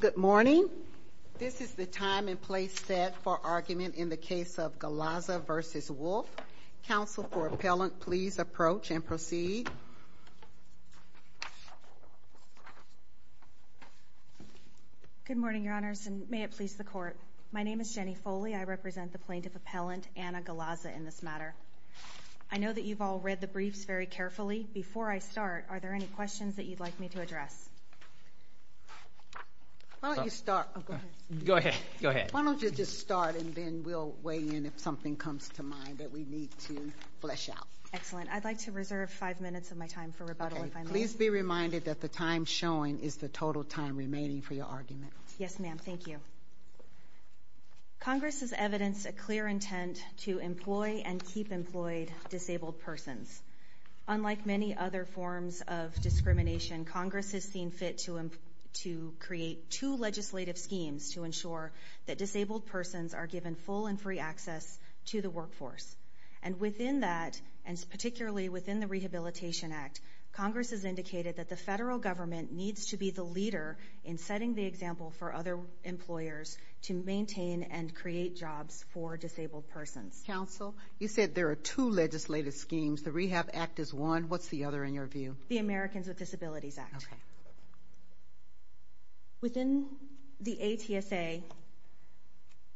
Good morning. This is the time and place set for argument in the case of Galaza v. Wolf. Counsel for Appellant, please approach and proceed. Good morning, Your Honors, and may it please the Court. My name is Jenny Foley. I represent the Plaintiff Appellant, Anna Galaza, in this matter. I know that you've all read the briefs very carefully. Before I start, are there any questions that you'd like me to address? Why don't you just start and then we'll weigh in if something comes to mind that we need to flesh out. Excellent. I'd like to reserve five minutes of my time for rebuttal if I may. Please be reminded that the time showing is the total time remaining for your argument. Yes, ma'am. Thank you. Congress has evidenced a clear intent to employ and keep employed disabled persons. Unlike many other forms of discrimination, Congress has seen fit to create two legislative schemes to ensure that disabled persons are given full and free access to the workforce. And within that, and particularly within the Rehabilitation Act, Congress has indicated that the federal government needs to be the leader in setting the example for other employers to maintain and create jobs for disabled persons. Counsel, you said there are two legislative schemes. The Rehab Act is one. What's the other in your view? The Americans with Disabilities Act. Within the ATSA,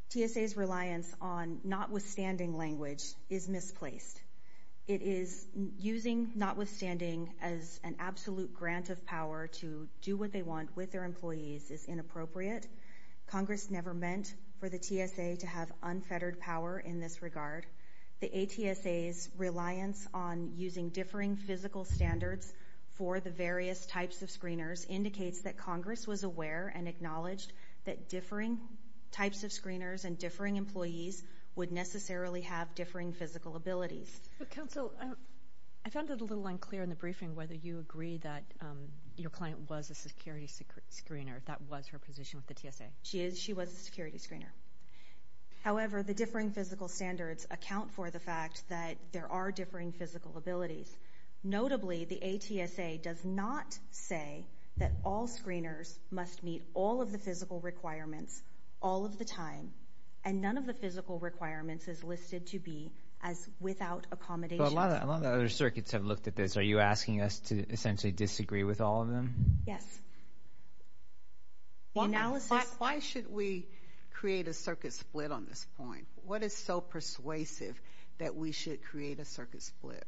TSA's reliance on notwithstanding language is misplaced. It is using notwithstanding as an absolute grant of power to do what they want with their employees is inappropriate. Congress never meant for the TSA to have unfettered power in this regard. The ATSA's reliance on using differing physical standards for the various types of screeners indicates that Congress was aware and acknowledged that differing types of screeners and differing employees would necessarily have differing physical abilities. Counsel, I found it a little unclear in the briefing whether you agree that your client was a security screener. That was her position with the TSA. She was a security screener. However, the differing physical standards account for the fact that there are differing physical abilities. Notably, the ATSA does not say that all screeners must meet all of the physical requirements all of the time, and none of the physical requirements is listed to be as without accommodation. A lot of the other circuits have looked at this. Are you asking us to essentially disagree with all of them? Yes. Why should we create a circuit split on this point? What is so persuasive that we should create a circuit split?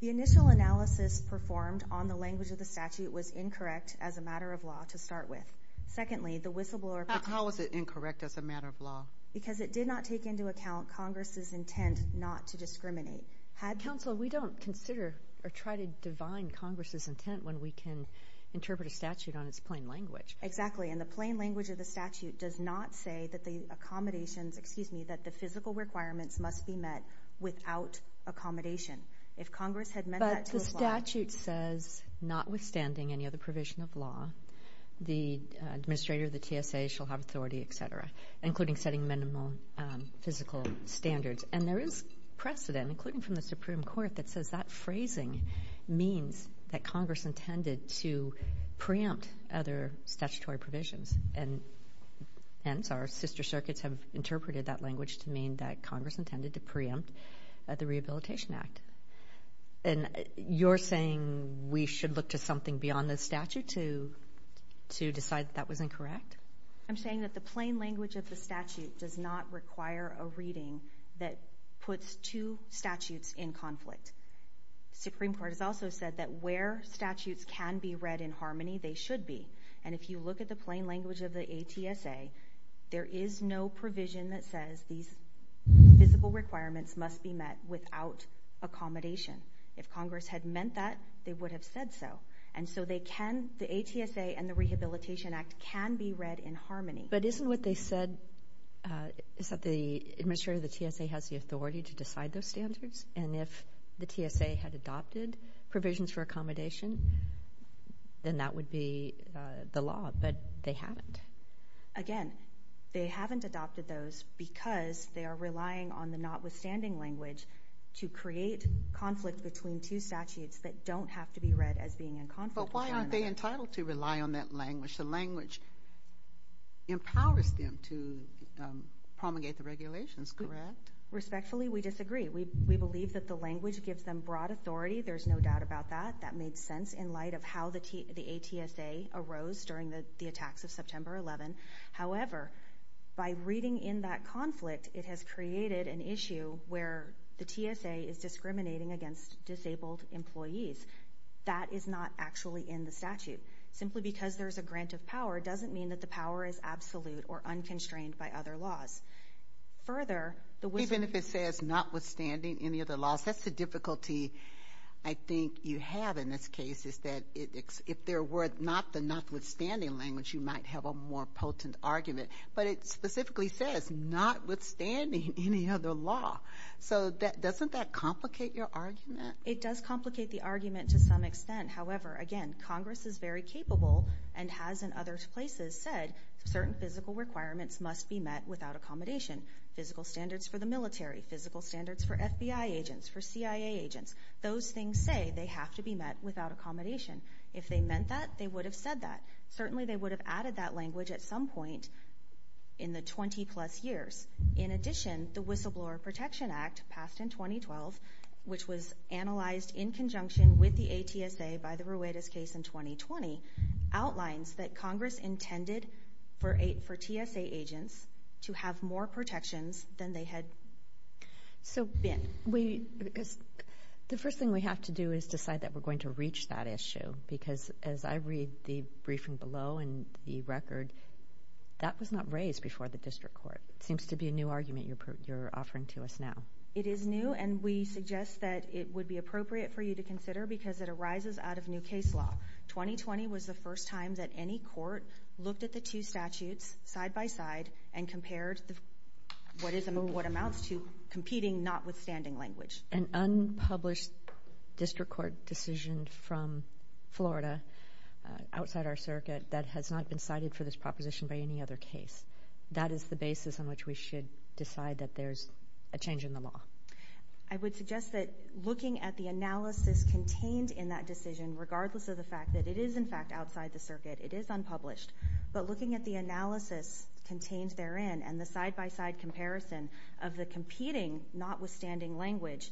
The initial analysis performed on the language of the statute was incorrect as a matter of law to start with. Secondly, the whistleblower… How is it incorrect as a matter of law? Because it did not take into account Congress's intent not to discriminate. Counsel, we don't consider or try to divine Congress's intent when we can interpret a statute on its plain language. Exactly, and the plain language of the statute does not say that the accommodations, excuse me, that the physical requirements must be met without accommodation. If Congress had meant that to apply… But the statute says, notwithstanding any other provision of law, the administrator of the TSA shall have authority, etc., including setting minimal physical standards. And there is precedent, including from the Supreme Court, that says that phrasing means that Congress intended to preempt other statutory provisions. And hence, our sister circuits have interpreted that language to mean that Congress intended to preempt the Rehabilitation Act. And you're saying we should look to something beyond the statute to decide that that was incorrect? I'm saying that the plain language of the statute does not require a reading that puts two statutes in conflict. The Supreme Court has also said that where statutes can be read in harmony, they should be. And if you look at the plain language of the ATSA, there is no provision that says these physical requirements must be met without accommodation. If Congress had meant that, they would have said so. The ATSA and the Rehabilitation Act can be read in harmony. But isn't what they said is that the administrator of the TSA has the authority to decide those standards? And if the TSA had adopted provisions for accommodation, then that would be the law. But they haven't. Again, they haven't adopted those because they are relying on the notwithstanding language to create conflict between two statutes that don't have to be read as being in conflict. But why aren't they entitled to rely on that language? The language empowers them to promulgate the regulations, correct? Respectfully, we disagree. We believe that the language gives them broad authority. There's no doubt about that. That made sense in light of how the ATSA arose during the attacks of September 11. However, by reading in that conflict, it has created an issue where the TSA is discriminating against disabled employees. That is not actually in the statute. Simply because there's a grant of power doesn't mean that the power is absolute or unconstrained by other laws. Even if it says notwithstanding any of the laws, that's the difficulty I think you have in this case, is that if there were not the notwithstanding language, you might have a more potent argument. But it specifically says notwithstanding any other law. So doesn't that complicate your argument? It does complicate the argument to some extent. However, again, Congress is very capable and has in other places said certain physical requirements must be met without accommodation. Physical standards for the military, physical standards for FBI agents, for CIA agents. Those things say they have to be met without accommodation. If they meant that, they would have said that. Certainly they would have added that language at some point in the 20-plus years. In addition, the Whistleblower Protection Act passed in 2012, which was analyzed in conjunction with the ATSA by the Ruedas case in 2020, outlines that Congress intended for TSA agents to have more protections than they had been. The first thing we have to do is decide that we're going to reach that issue. Because as I read the briefing below and the record, that was not raised before the district court. It seems to be a new argument you're offering to us now. It is new, and we suggest that it would be appropriate for you to consider because it arises out of new case law. 2020 was the first time that any court looked at the two statutes side by side and compared what amounts to competing notwithstanding language. An unpublished district court decision from Florida, outside our circuit, that has not been cited for this proposition by any other case. That is the basis on which we should decide that there's a change in the law. I would suggest that looking at the analysis contained in that decision, regardless of the fact that it is, in fact, outside the circuit, it is unpublished, but looking at the analysis contained therein and the side-by-side comparison of the competing notwithstanding language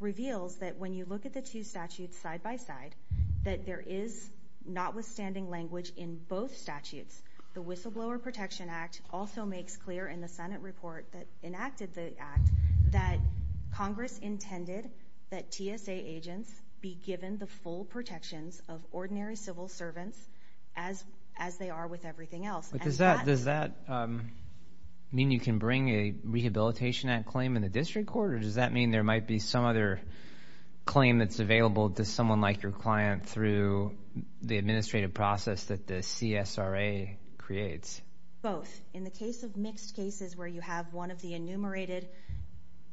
reveals that when you look at the two statutes side by side, that there is notwithstanding language in both statutes. The Whistleblower Protection Act also makes clear in the Senate report that enacted the act that Congress intended that TSA agents be given the full protections of ordinary civil servants as they are with everything else. Does that mean you can bring a Rehabilitation Act claim in the district court, or does that mean there might be some other claim that's available to someone like your client through the administrative process that the CSRA creates? Both. In the case of mixed cases where you have one of the enumerated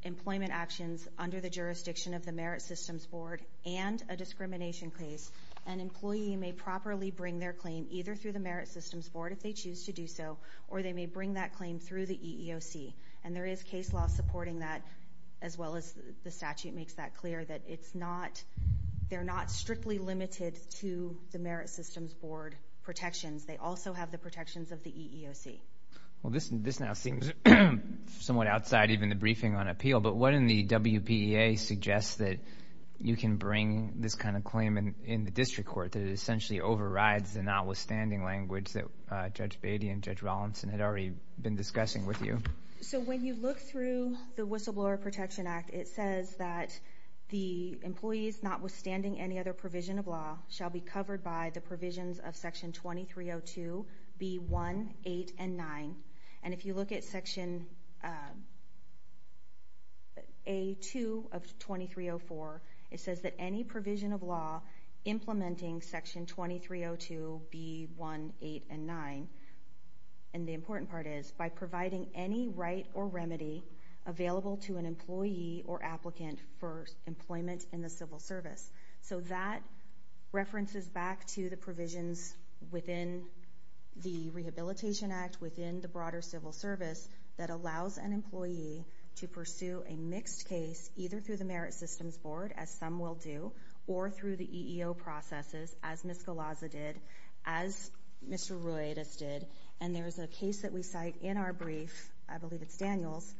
employment actions under the jurisdiction of the Merit Systems Board and a discrimination case, an employee may properly bring their claim either through the Merit Systems Board, if they choose to do so, or they may bring that claim through the EEOC. And there is case law supporting that, as well as the statute makes that clear, that they're not strictly limited to the Merit Systems Board protections. They also have the protections of the EEOC. Well, this now seems somewhat outside even the briefing on appeal, but wouldn't the WPEA suggest that you can bring this kind of claim in the district court, that it essentially overrides the notwithstanding language that Judge Beatty and Judge Rollinson had already been discussing with you? So when you look through the Whistleblower Protection Act, it says that the employees notwithstanding any other provision of law shall be covered by the provisions of Section 2302B1, 8, and 9. And if you look at Section A2 of 2304, it says that any provision of law implementing Section 2302B1, 8, and 9, and the important part is, by providing any right or remedy available to an employee or applicant for employment in the civil service. So that references back to the provisions within the Rehabilitation Act, within the broader civil service, that allows an employee to pursue a mixed case, either through the Merit Systems Board, as some will do, or through the EEO processes, as Ms. Galazza did, as Mr. Roedis did. And there is a case that we cite in our brief, I believe it's Daniel's,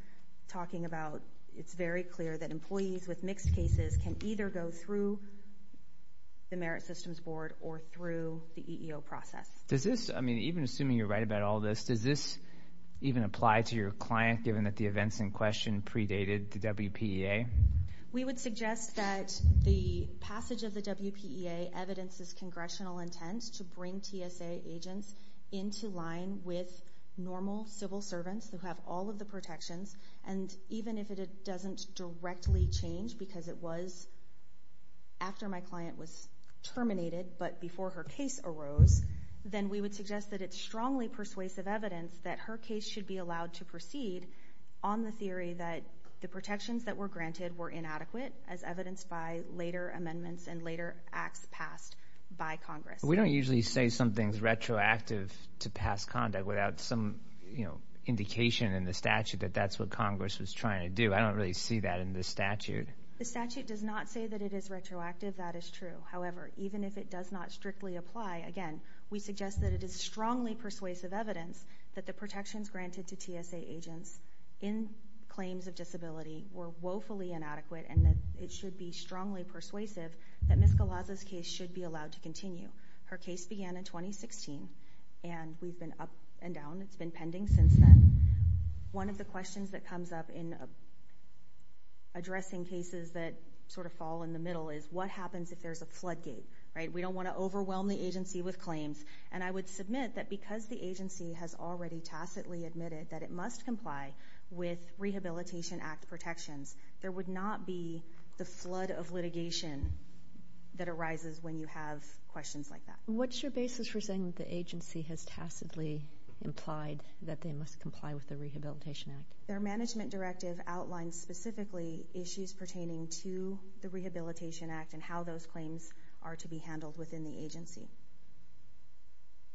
talking about it's very clear that employees with mixed cases can either go through the Merit Systems Board or through the EEO process. Does this, I mean, even assuming you're right about all this, does this even apply to your client, given that the events in question predated the WPEA? We would suggest that the passage of the WPEA evidences congressional intent to bring TSA agents into line with normal civil servants, who have all of the protections, and even if it doesn't directly change, because it was after my client was terminated, but before her case arose, then we would suggest that it's strongly persuasive evidence that her case should be allowed to proceed on the theory that the protections that were granted were inadequate, as evidenced by later amendments and later acts passed by Congress. We don't usually say something's retroactive to past conduct without some indication in the statute that that's what Congress was trying to do. I don't really see that in this statute. The statute does not say that it is retroactive. That is true. However, even if it does not strictly apply, again, we suggest that it is strongly persuasive evidence that the protections granted to TSA agents in claims of disability were woefully inadequate, and that it should be strongly persuasive that Ms. Galaza's case should be allowed to continue. Her case began in 2016, and we've been up and down. It's been pending since then. One of the questions that comes up in addressing cases that sort of fall in the middle is what happens if there's a floodgate, right? We don't want to overwhelm the agency with claims. And I would submit that because the agency has already tacitly admitted that it must comply with Rehabilitation Act protections, there would not be the flood of litigation that arises when you have questions like that. What's your basis for saying that the agency has tacitly implied that they must comply with the Rehabilitation Act? Their management directive outlines specifically issues pertaining to the Rehabilitation Act and how those claims are to be handled within the agency.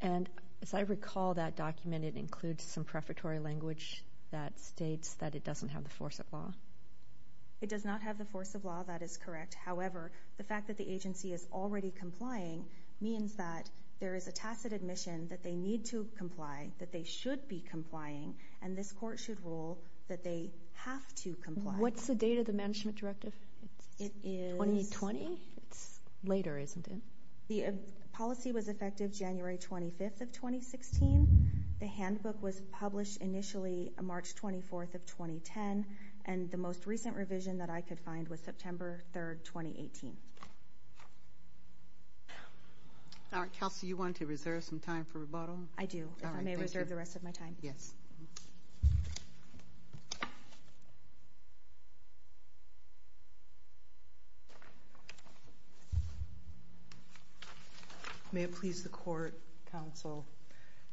And as I recall, that document includes some prefatory language that states that it doesn't have the force of law. It does not have the force of law. That is correct. However, the fact that the agency is already complying means that there is a tacit admission that they need to comply, that they should be complying, and this court should rule that they have to comply. What's the date of the management directive? 2020? It's later, isn't it? The policy was effective January 25th of 2016. The handbook was published initially March 24th of 2010, and the most recent revision that I could find was September 3rd, 2018. All right, Kelsey, you want to reserve some time for rebuttal? I do, if I may reserve the rest of my time. Yes. May it please the Court, Counsel.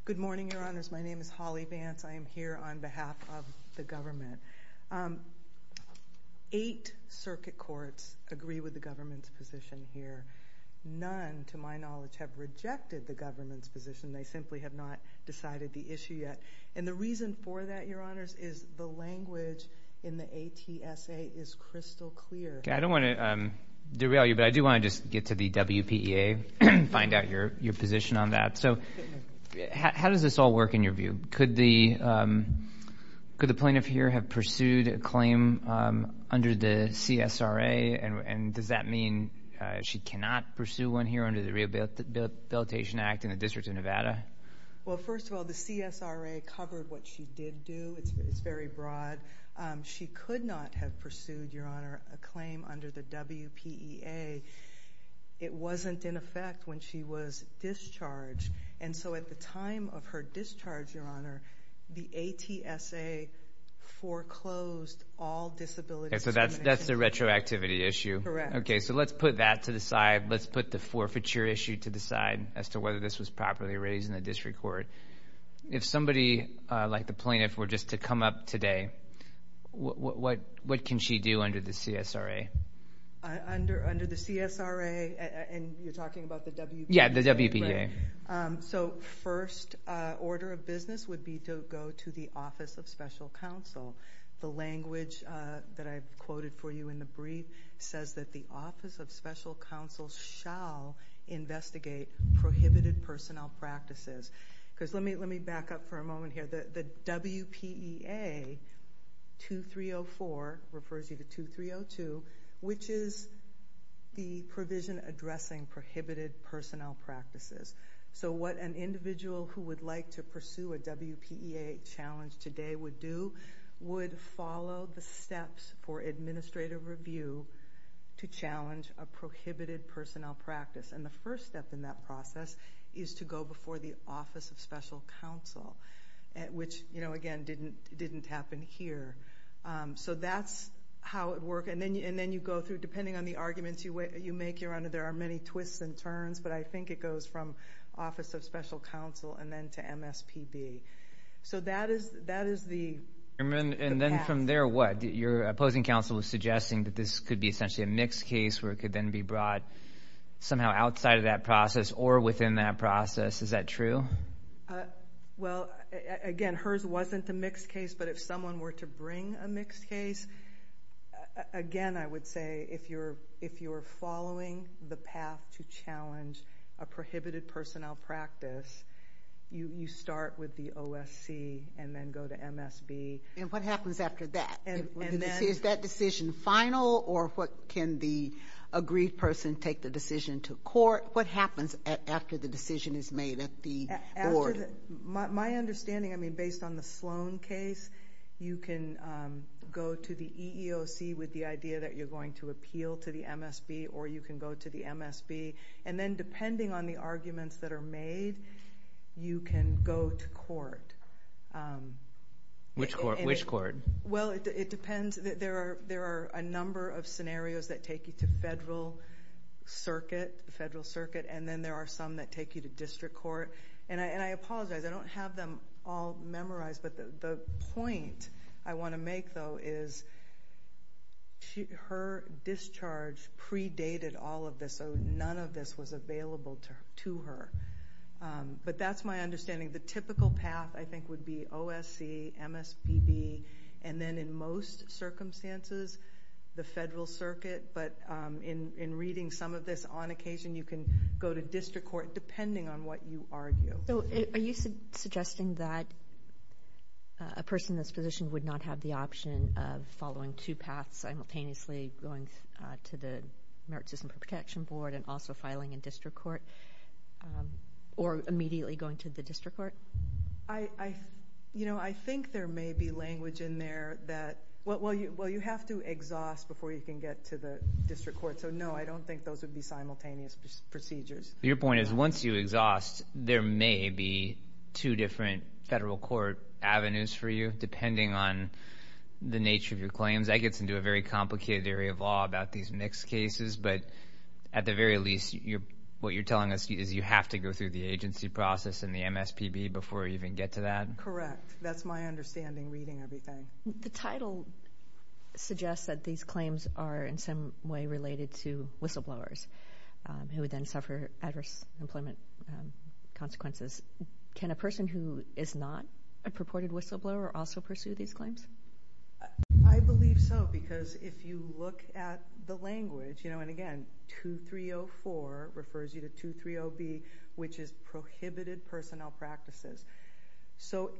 Good morning, Your Honors. My name is Holly Vance. I am here on behalf of the government. Eight circuit courts agree with the government's position here. None, to my knowledge, have rejected the government's position. They simply have not decided the issue yet. And the reason for that, Your Honors, is the language in the ATSA is crystal clear. I don't want to derail you, but I do want to just get to the WPEA, find out your position on that. So how does this all work in your view? Could the plaintiff here have pursued a claim under the CSRA, and does that mean she cannot pursue one here under the Rehabilitation Act in the District of Nevada? Well, first of all, the CSRA covered what she did do. It's very broad. She could not have pursued, Your Honor, a claim under the WPEA. It wasn't in effect when she was discharged. And so at the time of her discharge, Your Honor, the ATSA foreclosed all disability discrimination. So that's the retroactivity issue. Correct. Okay, so let's put that to the side. Let's put the forfeiture issue to the side as to whether this was properly raised in the district court. If somebody like the plaintiff were just to come up today, what can she do under the CSRA? Under the CSRA, and you're talking about the WPEA? Yeah, the WPEA. So first order of business would be to go to the Office of Special Counsel. The language that I've quoted for you in the brief says that the Office of Special Counsel shall investigate prohibited personnel practices. Because let me back up for a moment here. The WPEA 2304 refers you to 2302, which is the provision addressing prohibited personnel practices. So what an individual who would like to pursue a WPEA challenge today would do would follow the steps for administrative review to challenge a prohibited personnel practice. And the first step in that process is to go before the Office of Special Counsel, which, again, didn't happen here. So that's how it would work. And then you go through, depending on the arguments you make, there are many twists and turns, but I think it goes from Office of Special Counsel and then to MSPB. So that is the path. And then from there, what? Your opposing counsel was suggesting that this could be essentially a mixed case where it could then be brought somehow outside of that process or within that process. Is that true? Well, again, hers wasn't a mixed case, but if someone were to bring a mixed case, again, I would say if you're following the path to challenge a prohibited personnel practice, you start with the OSC and then go to MSB. And what happens after that? Is that decision final, or can the agreed person take the decision to court? What happens after the decision is made at the board? My understanding, I mean, based on the Sloan case, you can go to the EEOC with the idea that you're going to appeal to the MSB, or you can go to the MSB. you can go to court. Which court? Well, it depends. There are a number of scenarios that take you to federal circuit, and then there are some that take you to district court. And I apologize. I don't have them all memorized, but the point I want to make, though, is her discharge predated all of this, so none of this was available to her. But that's my understanding. The typical path, I think, would be OSC, MSBB, and then in most circumstances, the federal circuit. But in reading some of this on occasion, you can go to district court depending on what you argue. So are you suggesting that a person in this position would not have the option of following two paths simultaneously, going to the Merit System Protection Board and also filing in district court, or immediately going to the district court? I think there may be language in there that, well, you have to exhaust before you can get to the district court, so no, I don't think those would be simultaneous procedures. Your point is once you exhaust, there may be two different federal court avenues for you depending on the nature of your claims. That gets into a very complicated area of law about these mixed cases, but at the very least, what you're telling us is you have to go through the agency process and the MSPB before you even get to that? Correct. That's my understanding reading everything. The title suggests that these claims are in some way related to whistleblowers who would then suffer adverse employment consequences. Can a person who is not a purported whistleblower also pursue these claims? I believe so because if you look at the language, and again, 2304 refers you to 230B, which is prohibited personnel practices.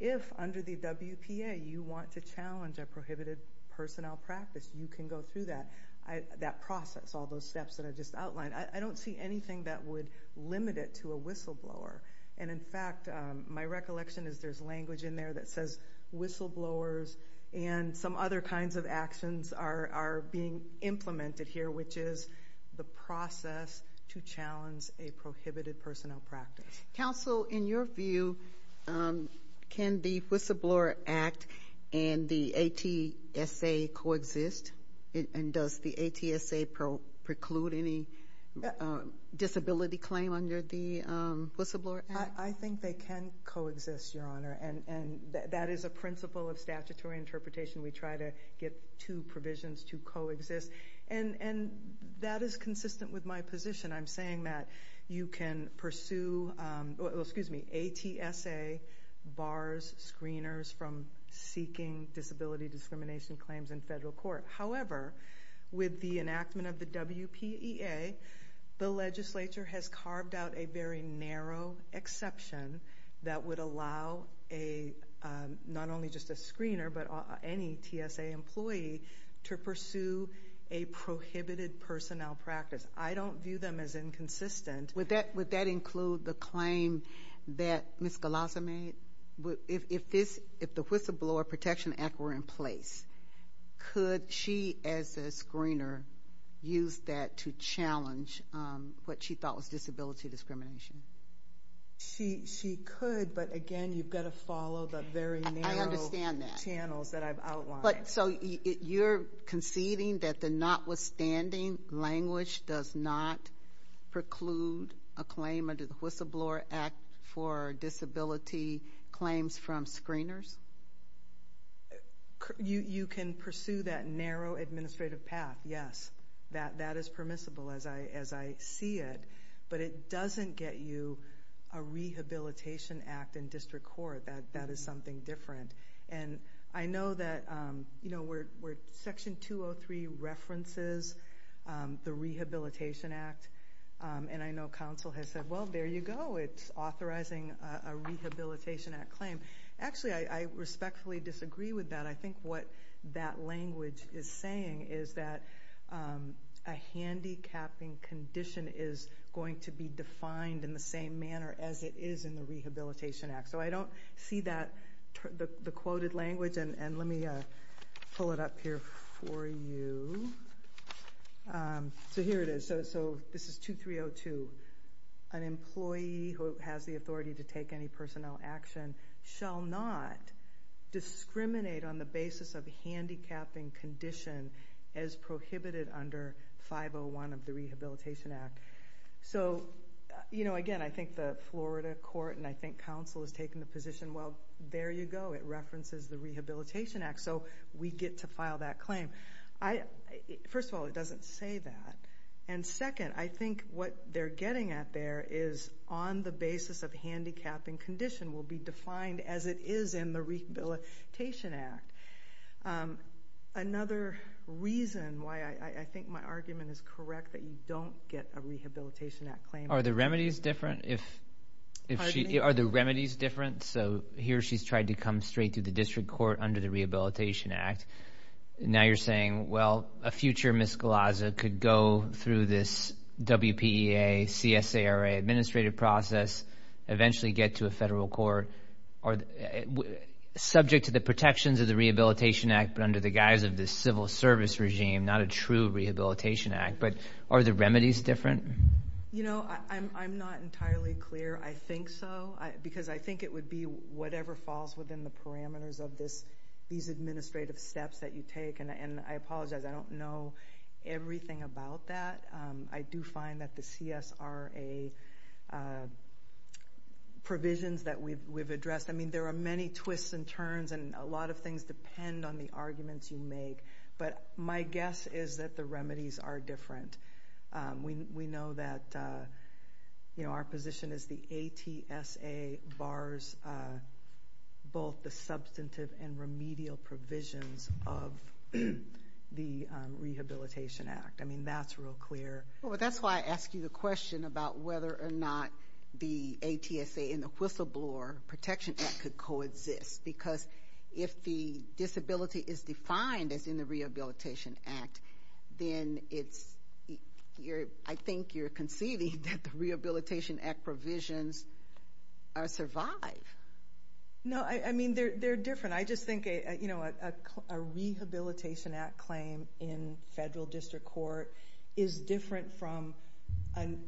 If under the WPA you want to challenge a prohibited personnel practice, you can go through that process, all those steps that I just outlined. I don't see anything that would limit it to a whistleblower. In fact, my recollection is there's language in there that says whistleblowers and some other kinds of actions are being implemented here, which is the process to challenge a prohibited personnel practice. Counsel, in your view, can the Whistleblower Act and the ATSA coexist? Does the ATSA preclude any disability claim under the Whistleblower Act? I think they can coexist, Your Honor. That is a principle of statutory interpretation. We try to get two provisions to coexist. That is consistent with my position. I'm saying that you can pursue ATSA bars screeners from seeking disability discrimination claims in federal court. However, with the enactment of the WPEA, the legislature has carved out a very narrow exception that would allow not only just a screener but any TSA employee to pursue a prohibited personnel practice. I don't view them as inconsistent. Would that include the claim that Ms. Galaza made? If the Whistleblower Protection Act were in place, could she as a screener use that to challenge what she thought was disability discrimination? She could, but, again, you've got to follow the very narrow channels that I've outlined. You're conceding that the notwithstanding language does not preclude a claim under the Whistleblower Act for disability claims from screeners? You can pursue that narrow administrative path, yes. That is permissible as I see it, but it doesn't get you a rehabilitation act in district court. That is something different. I know that Section 203 references the Rehabilitation Act, and I know counsel has said, well, there you go, it's authorizing a Rehabilitation Act claim. Actually, I respectfully disagree with that. I think what that language is saying is that a handicapping condition is going to be defined in the same manner as it is in the Rehabilitation Act. I don't see the quoted language, and let me pull it up here for you. Here it is. This is 2302. An employee who has the authority to take any personnel action shall not discriminate on the basis of a handicapping condition as prohibited under 501 of the Rehabilitation Act. So, you know, again, I think the Florida court and I think counsel has taken the position, well, there you go, it references the Rehabilitation Act, so we get to file that claim. First of all, it doesn't say that. And second, I think what they're getting at there is on the basis of handicapping condition will be defined as it is in the Rehabilitation Act. Another reason why I think my argument is correct that you don't get a Rehabilitation Act claim... Are the remedies different? Pardon me? Are the remedies different? So here she's tried to come straight to the district court under the Rehabilitation Act. Now you're saying, well, a future Ms. Galazza could go through this WPEA, CSARA administrative process, eventually get to a federal court, subject to the protections of the Rehabilitation Act but under the guise of the civil service regime, not a true Rehabilitation Act. But are the remedies different? You know, I'm not entirely clear. I think so, because I think it would be whatever falls within the parameters of these administrative steps that you take. And I apologize, I don't know everything about that. I do find that the CSRA provisions that we've addressed, I mean, there are many twists and turns and a lot of things depend on the arguments you make. But my guess is that the remedies are different. We know that our position is the ATSA bars both the substantive and remedial provisions of the Rehabilitation Act. I mean, that's real clear. Well, that's why I asked you the question about whether or not the ATSA and the Whistleblower Protection Act could coexist. Because if the disability is defined as in the Rehabilitation Act, then I think you're conceding that the Rehabilitation Act provisions survive. No, I mean, they're different. I just think a Rehabilitation Act claim in federal district court is different from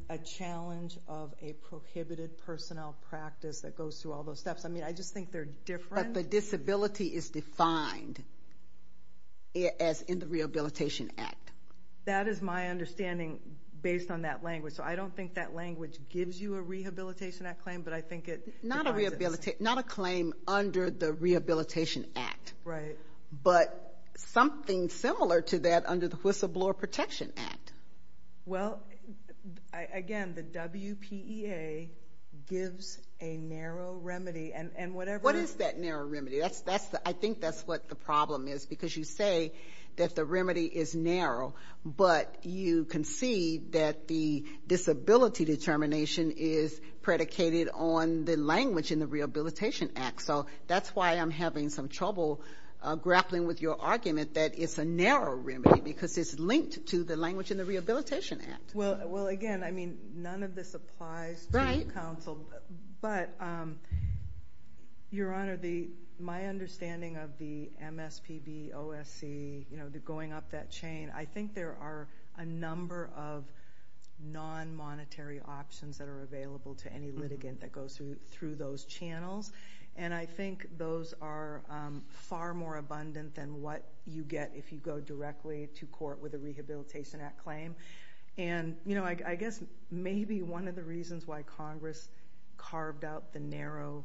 a challenge of a prohibited personnel practice that goes through all those steps. I mean, I just think they're different. But the disability is defined as in the Rehabilitation Act. That is my understanding based on that language. So I don't think that language gives you a Rehabilitation Act claim, but I think it defines it. Not a claim under the Rehabilitation Act. Right. But something similar to that under the Whistleblower Protection Act. Well, again, the WPEA gives a narrow remedy. What is that narrow remedy? I think that's what the problem is because you say that the remedy is narrow, but you concede that the disability determination is predicated on the language in the Rehabilitation Act. So that's why I'm having some trouble grappling with your argument that it's a narrow remedy because it's linked to the language in the Rehabilitation Act. Well, again, I mean, none of this applies to counsel. But, Your Honor, my understanding of the MSPB, OSC, going up that chain, I think there are a number of non-monetary options that are available to any litigant that goes through those channels, and I think those are far more abundant than what you get if you go directly to court with a Rehabilitation Act claim. And I guess maybe one of the reasons why Congress carved out the narrow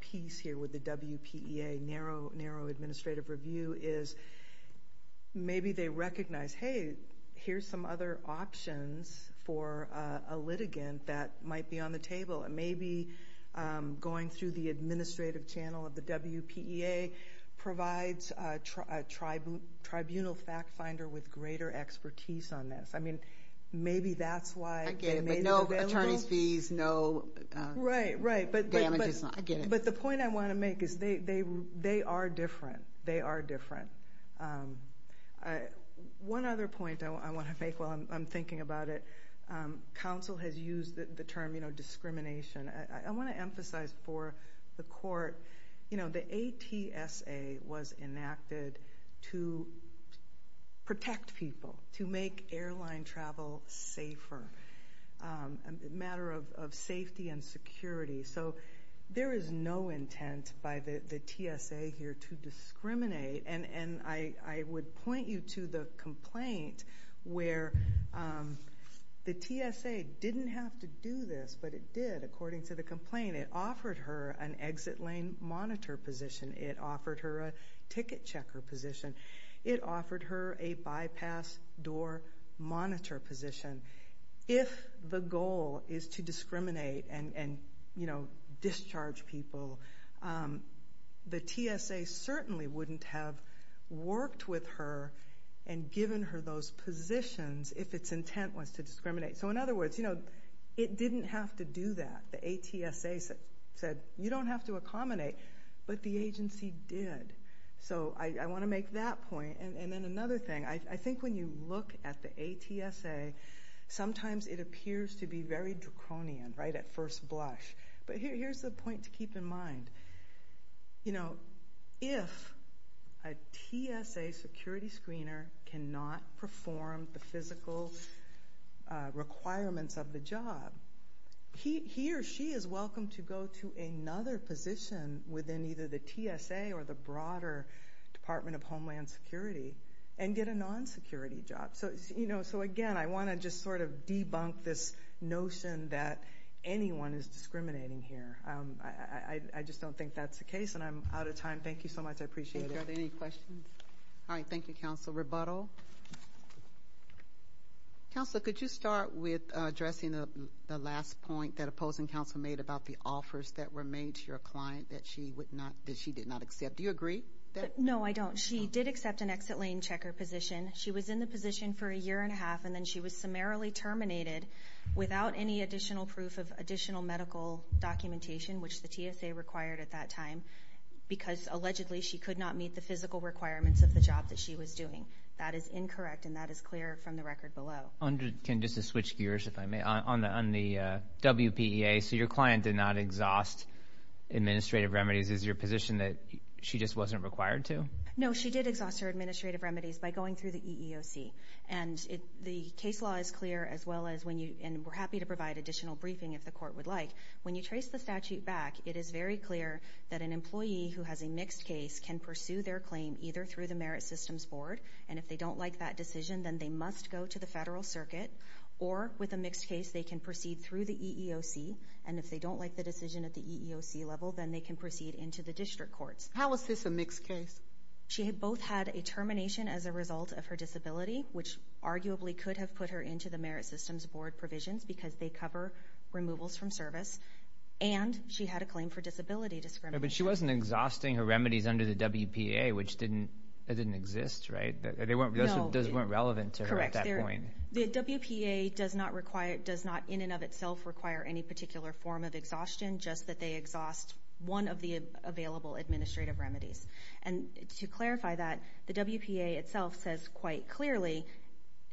piece here with the WPEA, narrow administrative review, is maybe they recognize, hey, here's some other options for a litigant that might be on the table. And maybe going through the administrative channel of the WPEA provides a tribunal fact finder with greater expertise on this. I mean, maybe that's why they may be available. I get it, but no attorney's fees, no damages. Right, right. I get it. But the point I want to make is they are different. They are different. One other point I want to make while I'm thinking about it, counsel has used the term discrimination. I want to emphasize for the court, you know, the ATSA was enacted to protect people, to make airline travel safer, a matter of safety and security. So there is no intent by the TSA here to discriminate. And I would point you to the complaint where the TSA didn't have to do this, but it did according to the complaint. It offered her an exit lane monitor position. It offered her a ticket checker position. It offered her a bypass door monitor position. If the goal is to discriminate and, you know, discharge people, the TSA certainly wouldn't have worked with her and given her those positions if its intent was to discriminate. So, in other words, you know, it didn't have to do that. The ATSA said you don't have to accommodate, but the agency did. So I want to make that point. And then another thing, I think when you look at the ATSA, sometimes it appears to be very draconian, right, at first blush. But here's the point to keep in mind. You know, if a TSA security screener cannot perform the physical requirements of the job, he or she is welcome to go to another position within either the TSA or the broader Department of Homeland Security and get a non-security job. So, you know, again, I want to just sort of debunk this notion that anyone is discriminating here. I just don't think that's the case, and I'm out of time. Thank you so much. I appreciate it. Are there any questions? All right, thank you, Counsel. Rebuttal? Counsel, could you start with addressing the last point that opposing counsel made about the offers that were made to your client that she did not accept? Do you agree? No, I don't. She did accept an exit lane checker position. She was in the position for a year and a half, and then she was summarily terminated without any additional proof of additional medical documentation, which the TSA required at that time, because allegedly she could not meet the physical requirements of the job that she was doing. That is incorrect, and that is clear from the record below. Can I just switch gears, if I may? On the WPEA, so your client did not exhaust administrative remedies. Is your position that she just wasn't required to? No, she did exhaust her administrative remedies by going through the EEOC, and the case law is clear, as well as when you – and we're happy to provide additional briefing if the court would like. When you trace the statute back, it is very clear that an employee who has a mixed case can pursue their claim either through the Merit Systems Board, and if they don't like that decision, then they must go to the federal circuit, or with a mixed case, they can proceed through the EEOC, and if they don't like the decision at the EEOC level, then they can proceed into the district courts. How was this a mixed case? She both had a termination as a result of her disability, which arguably could have put her into the Merit Systems Board provisions because they cover removals from service, and she had a claim for disability discrimination. But she wasn't exhausting her remedies under the WPA, which didn't exist, right? Those weren't relevant to her at that point. Correct. The WPA does not in and of itself require any particular form of exhaustion, just that they exhaust one of the available administrative remedies. And to clarify that, the WPA itself says quite clearly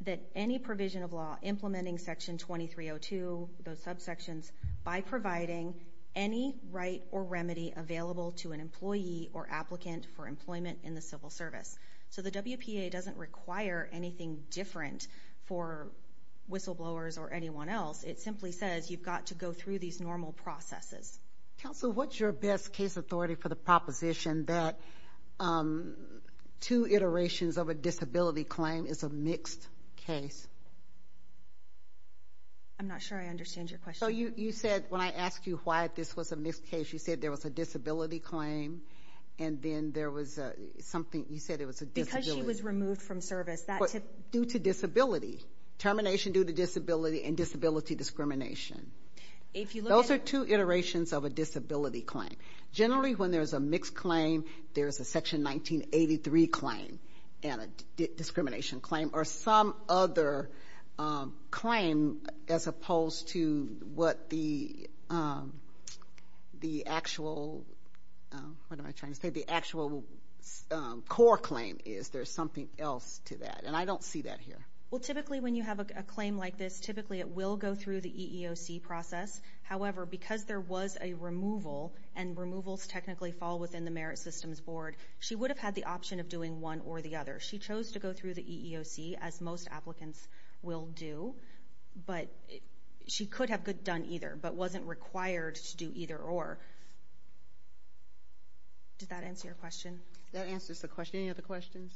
that any provision of law implementing Section 2302, those subsections, by providing any right or remedy available to an employee or applicant for employment in the civil service. So the WPA doesn't require anything different for whistleblowers or anyone else. It simply says you've got to go through these normal processes. Counsel, what's your best case authority for the proposition that two iterations of a disability claim is a mixed case? I'm not sure I understand your question. So you said, when I asked you why this was a mixed case, you said there was a disability claim, and then there was something. You said it was a disability. Because she was removed from service. Due to disability. Termination due to disability and disability discrimination. Those are two iterations of a disability claim. Generally, when there's a mixed claim, there's a Section 1983 claim and a discrimination claim, or some other claim as opposed to what the actual core claim is. There's something else to that. And I don't see that here. Well, typically when you have a claim like this, typically it will go through the EEOC process. However, because there was a removal, and removals technically fall within the Merit Systems Board, she would have had the option of doing one or the other. She chose to go through the EEOC, as most applicants will do. But she could have done either, but wasn't required to do either or. Did that answer your question? That answers the question. Any other questions?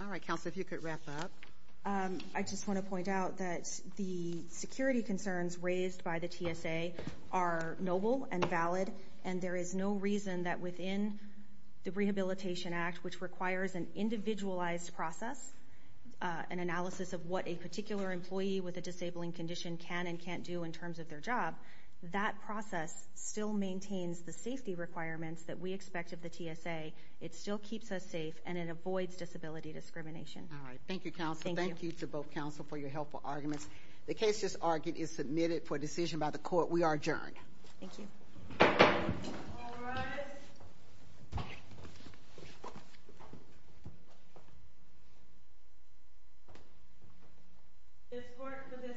All right, counsel, if you could wrap up. I just want to point out that the security concerns raised by the TSA are noble and valid, and there is no reason that within the Rehabilitation Act, which requires an individualized process, an analysis of what a particular employee with a disabling condition can and can't do in terms of their job, that process still maintains the safety requirements that we expect of the TSA. It still keeps us safe, and it avoids disability discrimination. All right, thank you, counsel. Thank you to both counsel for your helpful arguments. The case just argued is submitted for decision by the Court. We are adjourned. Thank you. All rise. This court for this session stands adjourned. Thank you.